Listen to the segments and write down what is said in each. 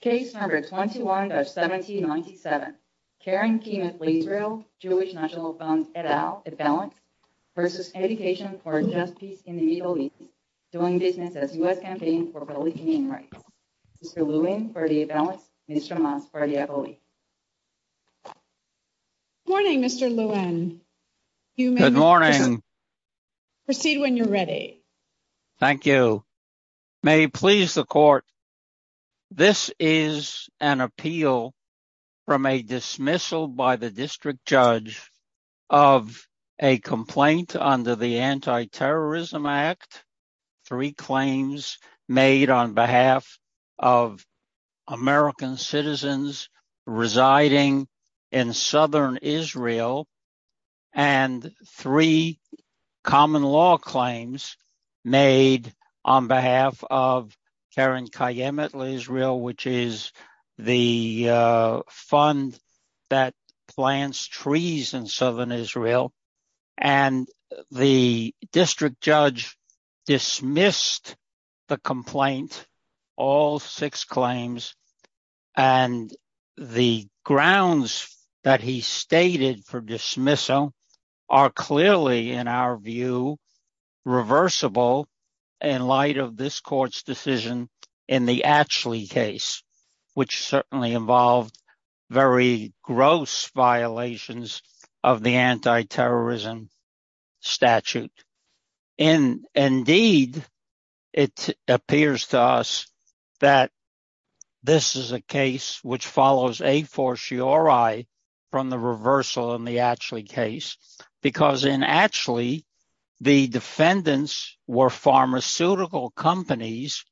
Case No. 21-1797. Keren Kayemeth Leisrael, Jewish National Fund et al., A Balance, v. Education for a Just Peace in the Middle East, doing business as U.S. Campaign for Religious Human Rights. Mr. Lewin for the A Balance, Mr. Maas for the FOE. Good morning, Mr. Lewin. You may proceed when you're ready. Thank you. May it please the court, this is an appeal from a dismissal by the district judge of a complaint under the Anti-Terrorism Act, three claims made on behalf of American citizens residing in southern Israel, and three common law claims made on behalf of Keren Kayemeth Leisrael, which is the fund that plants trees in southern Israel. And the district judge dismissed the complaint, all six claims, and the grounds that he stated for dismissal are clearly, in our view, reversible in light of this court's decision in the Atchley case, which certainly involved very gross violations of the Anti-Terrorism Act. And indeed, it appears to us that this is a case which follows a fortiori from the reversal in the Atchley case, because in Atchley, the defendants were pharmaceutical companies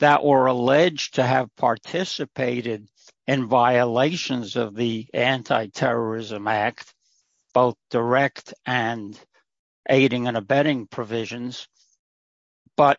that were alleged to have participated in violations of the Anti-Terrorism Act, both direct and aiding and abetting provisions, but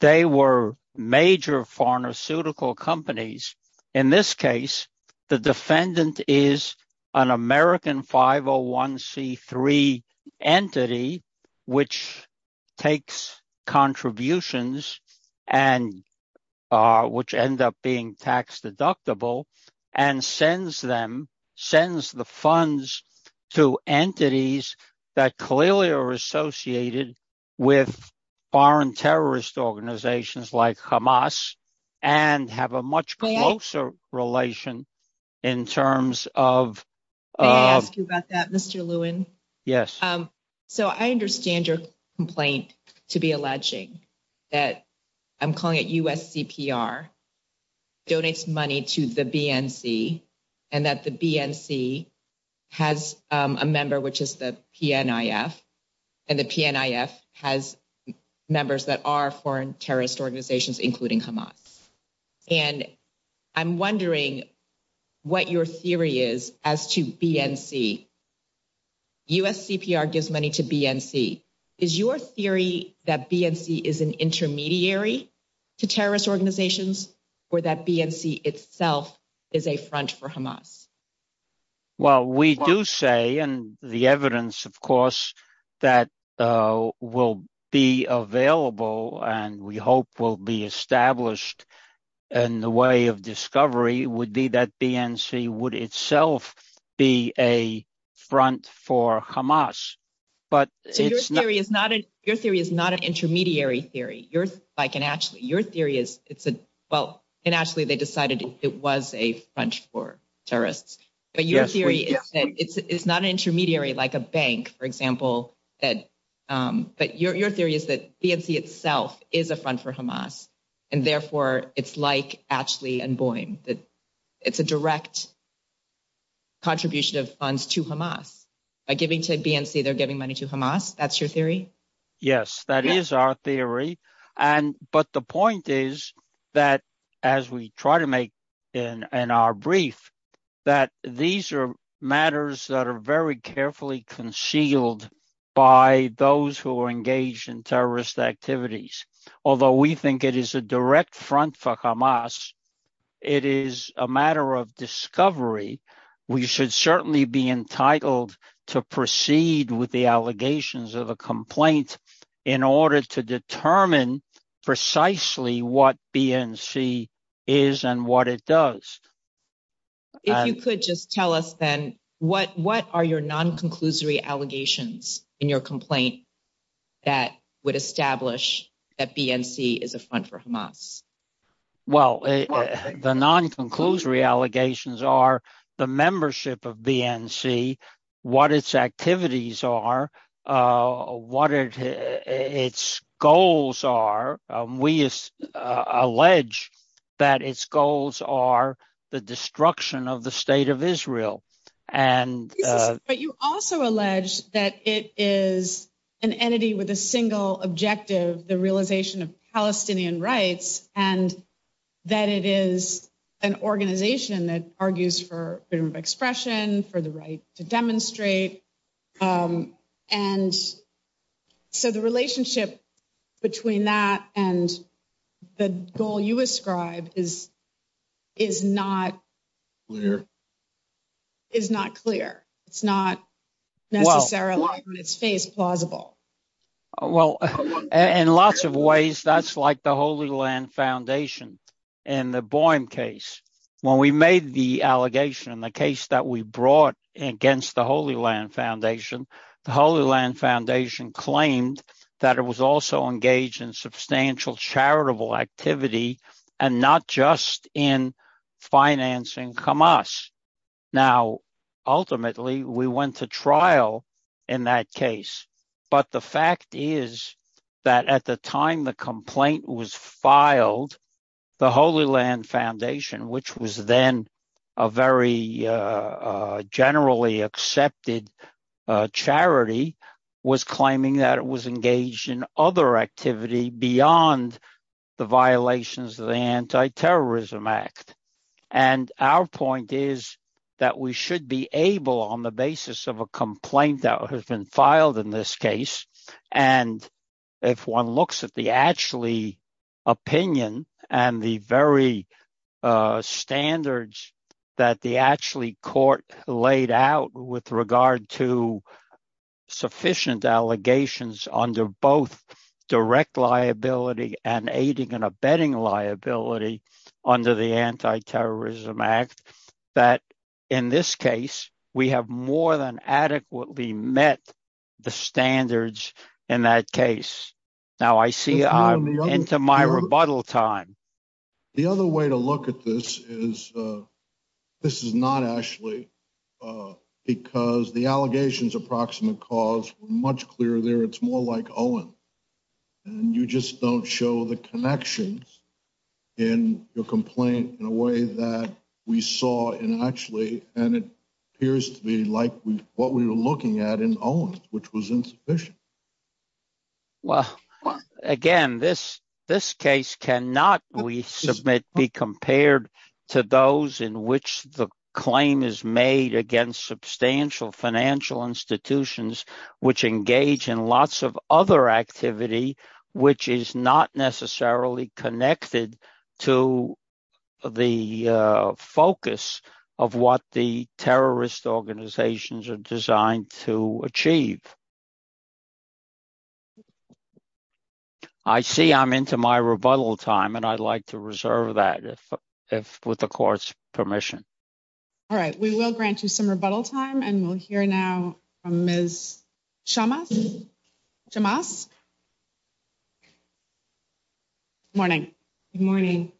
they were major pharmaceutical companies. In this case, the defendant is an American 501c3 entity, which takes contributions and which end up being tax deductible and sends them, sends the funds to entities that clearly are associated with foreign terrorist organizations like Hamas. May I ask you about that, Mr. Lewin? Yes. So, I understand your complaint to be alleging that, I'm calling it USCPR, donates money to the BNC, and that the BNC has a member, which is the PNIF, and the PNIF has members that are foreign terrorist organizations, including Hamas. And I'm wondering what your theory is as to BNC. USCPR gives money to BNC. Is your theory that BNC is an intermediary to terrorist organizations or that BNC itself is a front for Hamas? Well, we do say, and the evidence, of course, that will be available and we hope will be established in the way of discovery would be that BNC would itself be a front for Hamas. So, your theory is not an intermediary theory, like in ACHLI. Your theory is, well, in ACHLI, they decided it was a front for terrorists. Yes. It's not an intermediary like a bank, for example. But your theory is that BNC itself is a front for Hamas. And therefore, it's like ACHLI and BOIM. It's a direct contribution of funds to Hamas. By giving to BNC, they're giving money to Hamas. That's your theory? Yes, that is our theory. But the point is that, as we try to make in our brief, that these are matters that are very carefully concealed by those who are engaged in terrorist activities. Although we think it is a direct front for Hamas, it is a matter of discovery. We should certainly be entitled to proceed with the allegations of a complaint in order to determine precisely what BNC is and what it does. If you could just tell us then, what are your non-conclusory allegations in your complaint that would establish that BNC is a front for Hamas? Well, the non-conclusory allegations are the membership of BNC, what its activities are, what its goals are. We allege that its goals are the destruction of the state of Israel. But you also allege that it is an entity with a single objective, the realization of Palestinian rights, and that it is an organization that argues for freedom of expression, for the right to demonstrate. And so the relationship between that and the goal you ascribe is not clear. It's not necessarily on its face plausible. Well, in lots of ways, that's like the Holy Land Foundation and the Boehm case. When we made the allegation in the case that we brought against the Holy Land Foundation, the Holy Land Foundation claimed that it was also engaged in substantial charitable activity and not just in financing Hamas. Now, ultimately, we went to trial in that case. But the fact is that at the time the complaint was filed, the Holy Land Foundation, which was then a very generally accepted charity, was claiming that it was engaged in other activity beyond the violations of the Anti-Terrorism Act. And our point is that we should be able, on the basis of a complaint that has been filed in this case, and if one looks at the actually opinion and the very standards that the actually court laid out with regard to sufficient allegations under both direct liability and aiding and abetting liability under the Anti-Terrorism Act. That in this case, we have more than adequately met the standards in that case. Now, I see I'm into my rebuttal time. The other way to look at this is this is not actually because the allegations of proximate cause were much clearer there. It's more like Owen. And you just don't show the connections in your complaint in a way that we saw in actually. And it appears to be like what we were looking at in Owen, which was insufficient. Well, again, this this case cannot be compared to those in which the claim is made against substantial financial institutions, which engage in lots of other activity, which is not necessarily connected to the focus of what the terrorist organizations are designed to achieve. I see I'm into my rebuttal time, and I'd like to reserve that if with the court's permission. All right, we will grant you some rebuttal time and we'll hear now from Ms. Chamas. Morning. Good morning.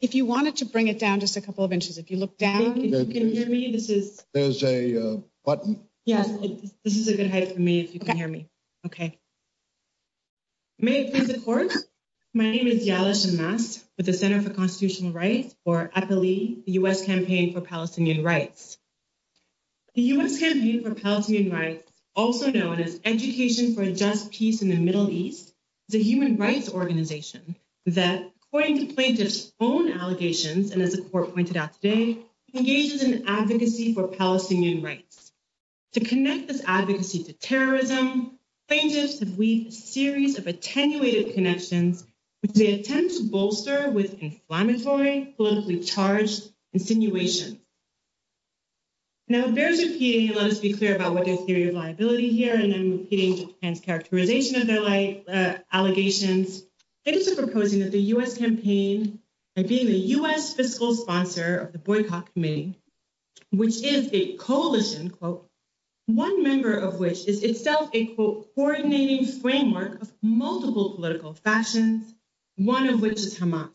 If you wanted to bring it down just a couple of inches, if you look down, you can hear me. This is there's a button. Yes, this is a good height for me. If you can hear me. Okay. May, of course, my name is with the center for constitutional rights or at the U. S. campaign for Palestinian rights. The U. S. campaign for Palestinian rights also known as education for a just piece in the Middle East. The human rights organization that, according to plaintiff's own allegations, and as a court pointed out today engages in advocacy for Palestinian rights. To connect this advocacy to terrorism, plaintiffs have a series of attenuated connections, which they attempt to bolster with inflammatory, politically charged insinuation. Now, there's a, let us be clear about what their theory of liability here, and I'm repeating and characterization of their life allegations. It is proposing that the U. S. campaign and being the U. S. fiscal sponsor of the boycott committee. Which is a coalition quote. 1 member of which is itself a coordinating framework of multiple political fashions. 1 of which is Hamas.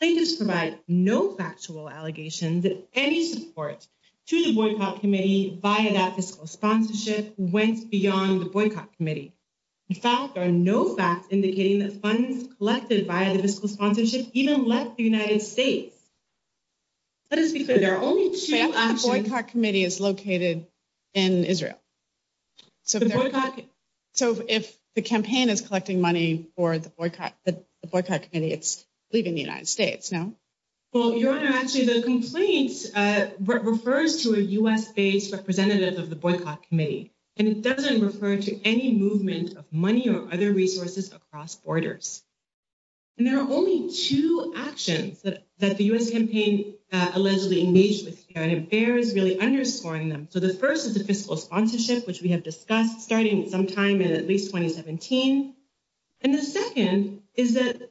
They just provide no factual allegations that any support to the boycott committee via that fiscal sponsorship went beyond the boycott committee. In fact, there are no facts indicating that funds collected by the fiscal sponsorship even left the United States. Let us be clear. There are only 2 boycott committee is located. In Israel. So, if the campaign is collecting money for the boycott, the boycott committee, it's leaving the United States now. Well, your honor, actually, the complaints refers to a U. S. based representative of the boycott committee, and it doesn't refer to any movement of money or other resources across borders. And there are only 2 actions that that the U. S. campaign allegedly engaged with, and it bears really underscoring them. So, the 1st is a fiscal sponsorship, which we have discussed starting sometime in at least 2017. And the 2nd is that.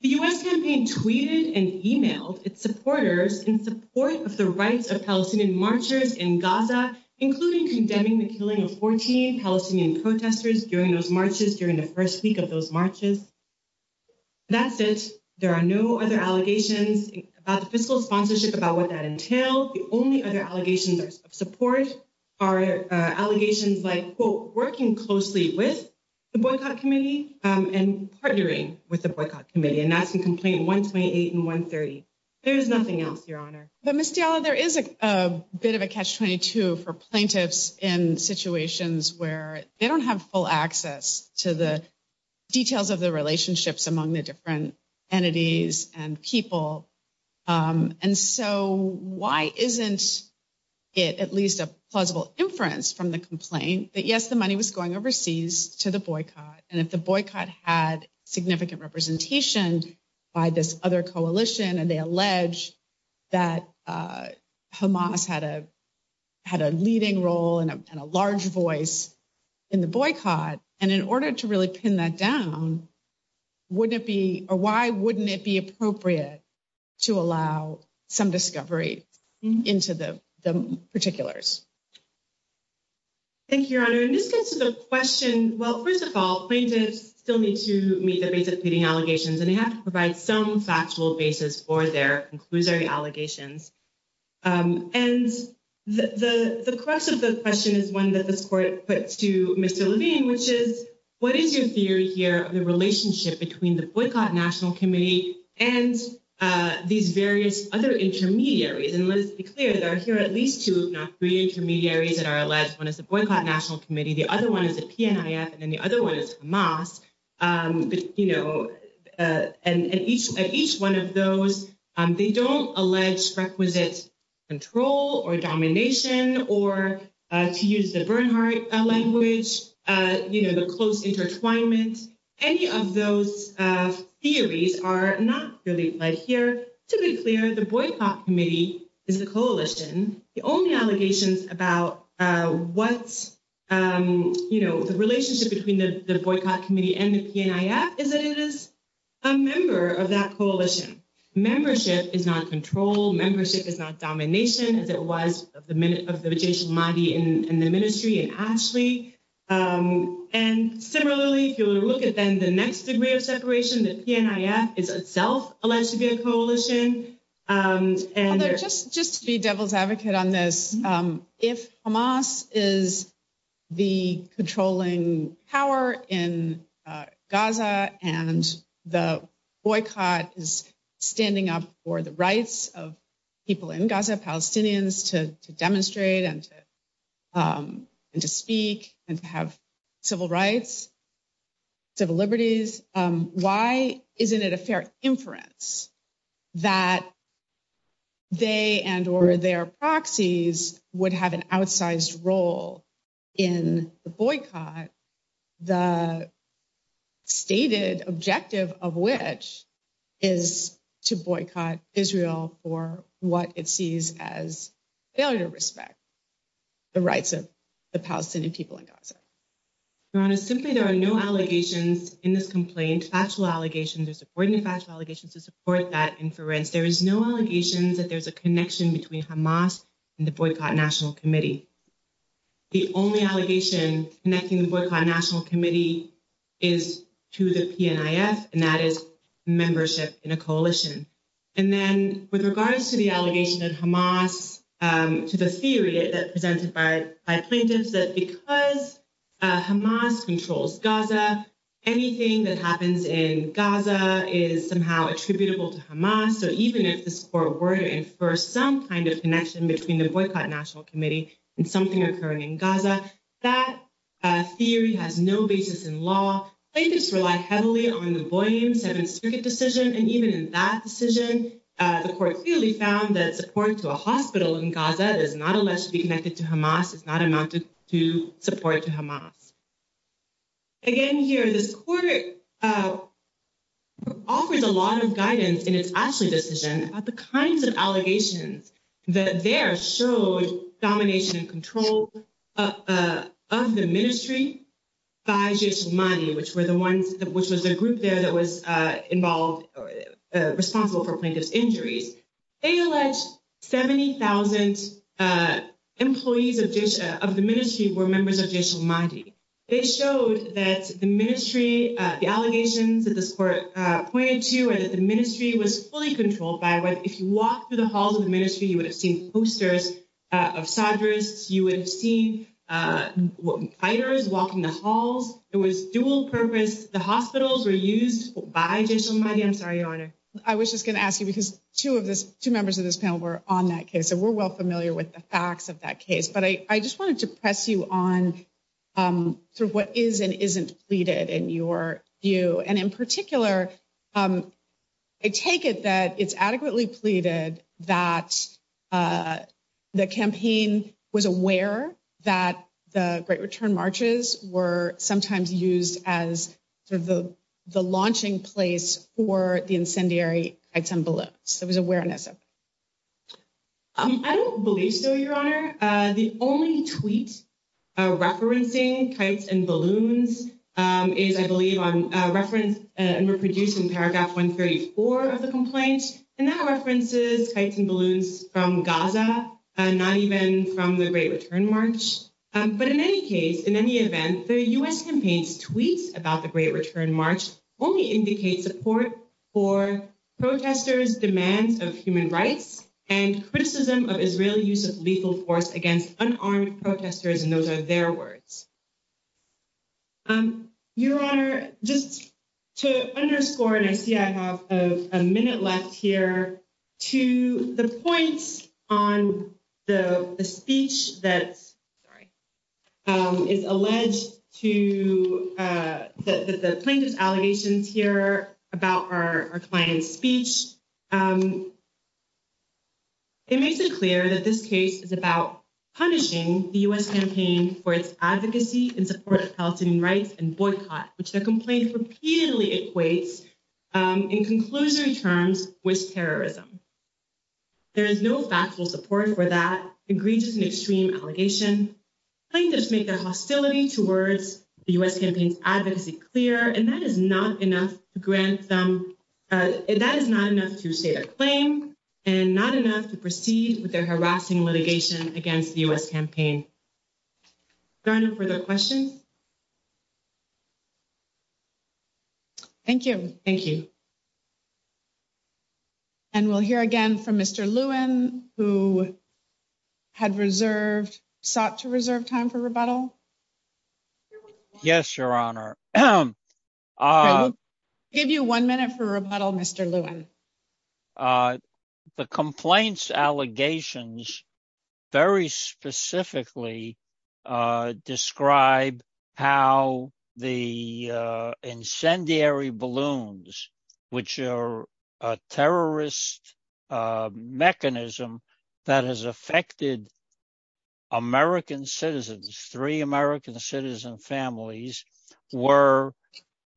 The U. S. campaign tweeted and emailed its supporters in support of the rights of Palestinian marchers in Gaza, including condemning the killing of 14 Palestinian protesters during those marches during the 1st week of those marches. That's it. There are no other allegations about the fiscal sponsorship about what that entail. The only other allegations of support are allegations like, quote, working closely with the boycott committee and partnering with the boycott committee. And that's the complaint 128 and 130. There is nothing else your honor. There is a bit of a catch 22 for plaintiffs in situations where they don't have full access to the details of the relationships among the different entities and people. And so why isn't it at least a plausible inference from the complaint that, yes, the money was going overseas to the boycott. And if the boycott had significant representation by this other coalition, and they allege that Hamas had a. Had a leading role and a large voice in the boycott and in order to really pin that down. Wouldn't it be or why wouldn't it be appropriate to allow some discovery into the particulars? Thank you, your honor, and this gets to the question. Well, 1st of all, plaintiffs still need to meet the basic allegations and they have to provide some factual basis for their inclusory allegations. And the crux of the question is 1 that this court puts to Mr. Levine, which is what is your theory here of the relationship between the boycott national committee and these various other intermediaries? And let's be clear, there are here at least 2, not 3 intermediaries that are alleged. 1 is the boycott national committee. The other 1 is a and then the other 1 is mass. And each at each 1 of those, they don't allege requisite. Control or domination, or to use the Bernhardt language, the close intertwinement. Any of those theories are not really right here to be clear. The boycott committee is the coalition. The only allegations about what's the relationship between the boycott committee and the is that it is a member of that coalition membership is not control. Membership is not domination as it was of the minute of the body in the ministry. And similarly, if you look at then the next degree of separation, the is itself alleged to be a coalition and just just to be devil's advocate on this. If Hamas is the controlling power in Gaza, and the boycott is standing up for the rights of people in Gaza, Palestinians to demonstrate and to and to speak and to have civil rights. Civil liberties, why isn't it a fair inference that they and or their proxies would have an outsized role in the boycott? The stated objective of which is to boycott Israel or what it sees as failure to respect. The rights of the Palestinian people in Gaza. Ron is simply there are no allegations in this complaint. Actual allegations are supporting the factual allegations to support that inference. There is no allegations that there's a connection between Hamas and the boycott national committee. The only allegation connecting the boycott national committee is to the and that is membership in a coalition. And then with regards to the allegation of Hamas to the theory that presented by plaintiffs that because Hamas controls Gaza, anything that happens in Gaza is somehow attributable to Hamas. So, even if the score were in for some kind of connection between the boycott national committee and something occurring in Gaza, that theory has no basis in law. They just rely heavily on the boy in seven circuit decision. And even in that decision, the court clearly found that support to a hospital in Gaza is not alleged to be connected to Hamas is not amounted to support to Hamas. Again, here this quarter. Offers a lot of guidance and it's actually decision about the kinds of allegations that there showed domination and control of the ministry. By money, which were the ones which was a group there that was involved responsible for plaintiff's injuries. They allege 70,000 employees of the ministry were members of. They showed that the ministry, the allegations that this court pointed to, and that the ministry was fully controlled by. If you walk through the halls of the ministry, you would have seen posters of you would have seen fighters walking the halls. It was dual purpose. The hospitals were used by. I was just going to ask you, because two of the two members of this panel were on that case. And we're well familiar with the facts of that case. But I just wanted to press you on what is and isn't pleaded in your view. And in particular, I take it that it's adequately pleaded that the campaign was aware that the great return marches were sometimes used as sort of the, the launching place for the incendiary symbol. So it was awareness of. I don't believe so, your honor. The only tweet referencing kites and balloons is, I believe, on reference and reproducing paragraph 134 of the complaint. And that references kites and balloons from Gaza, not even from the great return march. But in any case, in any event, the U.S. campaigns tweets about the great return march only indicates support for protesters demands of human rights and criticism of Israeli use of lethal force against unarmed protesters. And those are their words. Your honor, just to underscore, and I see I have a minute left here to the points on the speech that is alleged to the plaintiff's allegations here about our client's speech. It makes it clear that this case is about punishing the U.S. campaign for its advocacy in support of Palestinian rights and boycott, which the complaint repeatedly equates in conclusion terms with terrorism. There is no factual support for that egregious and extreme allegation. Plaintiffs make their hostility towards the U.S. campaign's advocacy clear, and that is not enough to grant them. That is not enough to state a claim and not enough to proceed with their harassing litigation against the U.S. campaign. Your honor, further questions? Thank you. Thank you. And we'll hear again from Mr. Lewin, who had reserved, sought to reserve time for rebuttal. Yes, your honor. Give you one minute for rebuttal, Mr. Lewin. The complaints allegations very specifically describe how the incendiary balloons, which are a terrorist mechanism that has affected. American citizens, three American citizen families were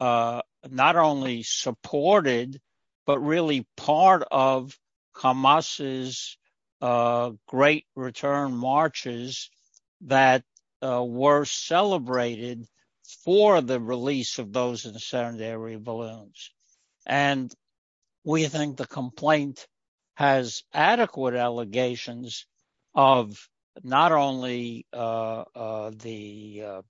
not only supported, but really part of Camas's great return marches that were celebrated for the release of those incendiary balloons. And we think the complaint has adequate allegations of not only the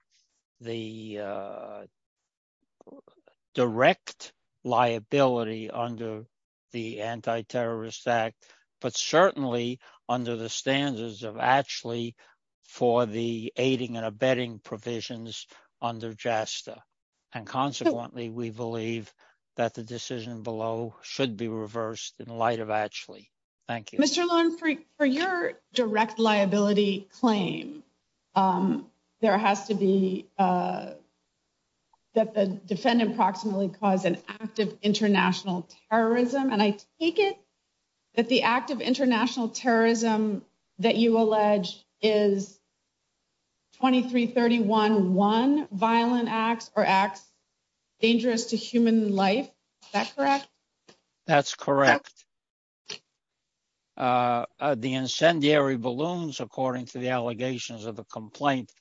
direct liability under the Anti-Terrorist Act, but certainly under the standards of actually for the aiding and abetting provisions under JASTA. And consequently, we believe that the decision below should be reversed in light of actually. Thank you. Mr. Lewin, for your direct liability claim, there has to be. That the defendant proximately cause an active international terrorism, and I take it that the active international terrorism that you allege is. Twenty three thirty one one violent acts or acts dangerous to human life. That's correct. That's correct. The incendiary balloons, according to the allegations of the complaint,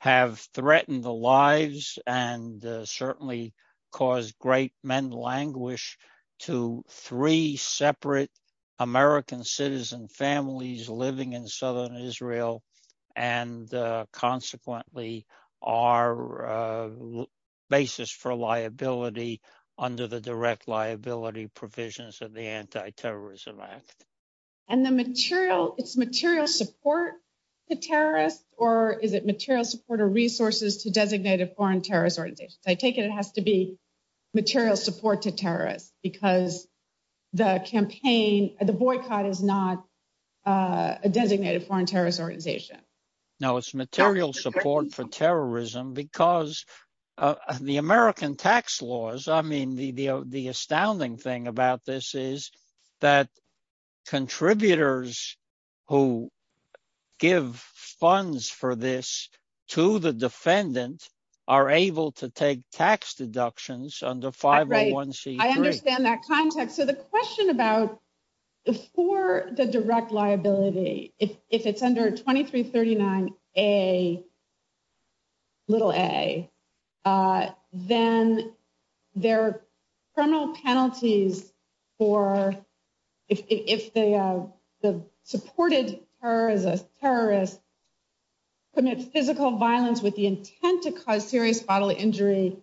have threatened the lives and certainly cause great mental anguish to three separate American citizen families living in southern Israel. And consequently, our basis for liability under the direct liability provisions of the Anti-Terrorism Act. And the material it's material support to terrorists, or is it material support or resources to designated foreign terrorist organizations? I take it it has to be material support to terrorists because the campaign, the boycott is not a designated foreign terrorist organization. No, it's material support for terrorism because the American tax laws. I mean, the the astounding thing about this is that contributors who give funds for this to the defendant are able to take tax deductions under five. I understand that context. So the question about the for the direct liability, if it's under twenty three thirty nine, a. Little a. Then there are criminal penalties for if the supported her as a terrorist. Physical violence with the intent to cause serious bodily injury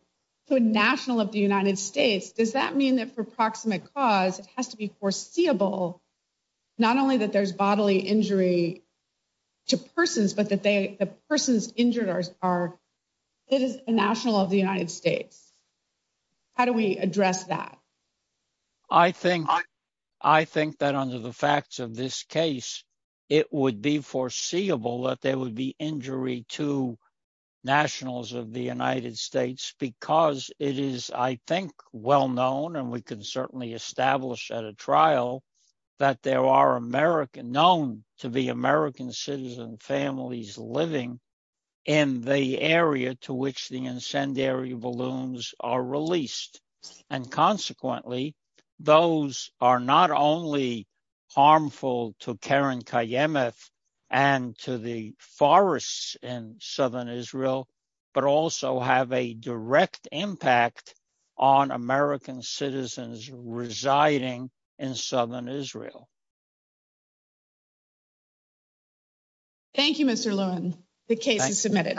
to a national of the United States. Does that mean that for proximate cause, it has to be foreseeable not only that there's bodily injury to persons, but that the persons injured are it is a national of the United States. How do we address that? I think I think that under the facts of this case, it would be foreseeable that there would be injury to nationals of the United States because it is, I think, well known. And we can certainly establish at a trial that there are American known to be American citizen families living in the area to which the incendiary balloons are released. And consequently, those are not only harmful to Karen Kiemeth and to the forests in southern Israel, but also have a direct impact on American citizens residing in southern Israel. Thank you, Mr. Lewin. The case is submitted.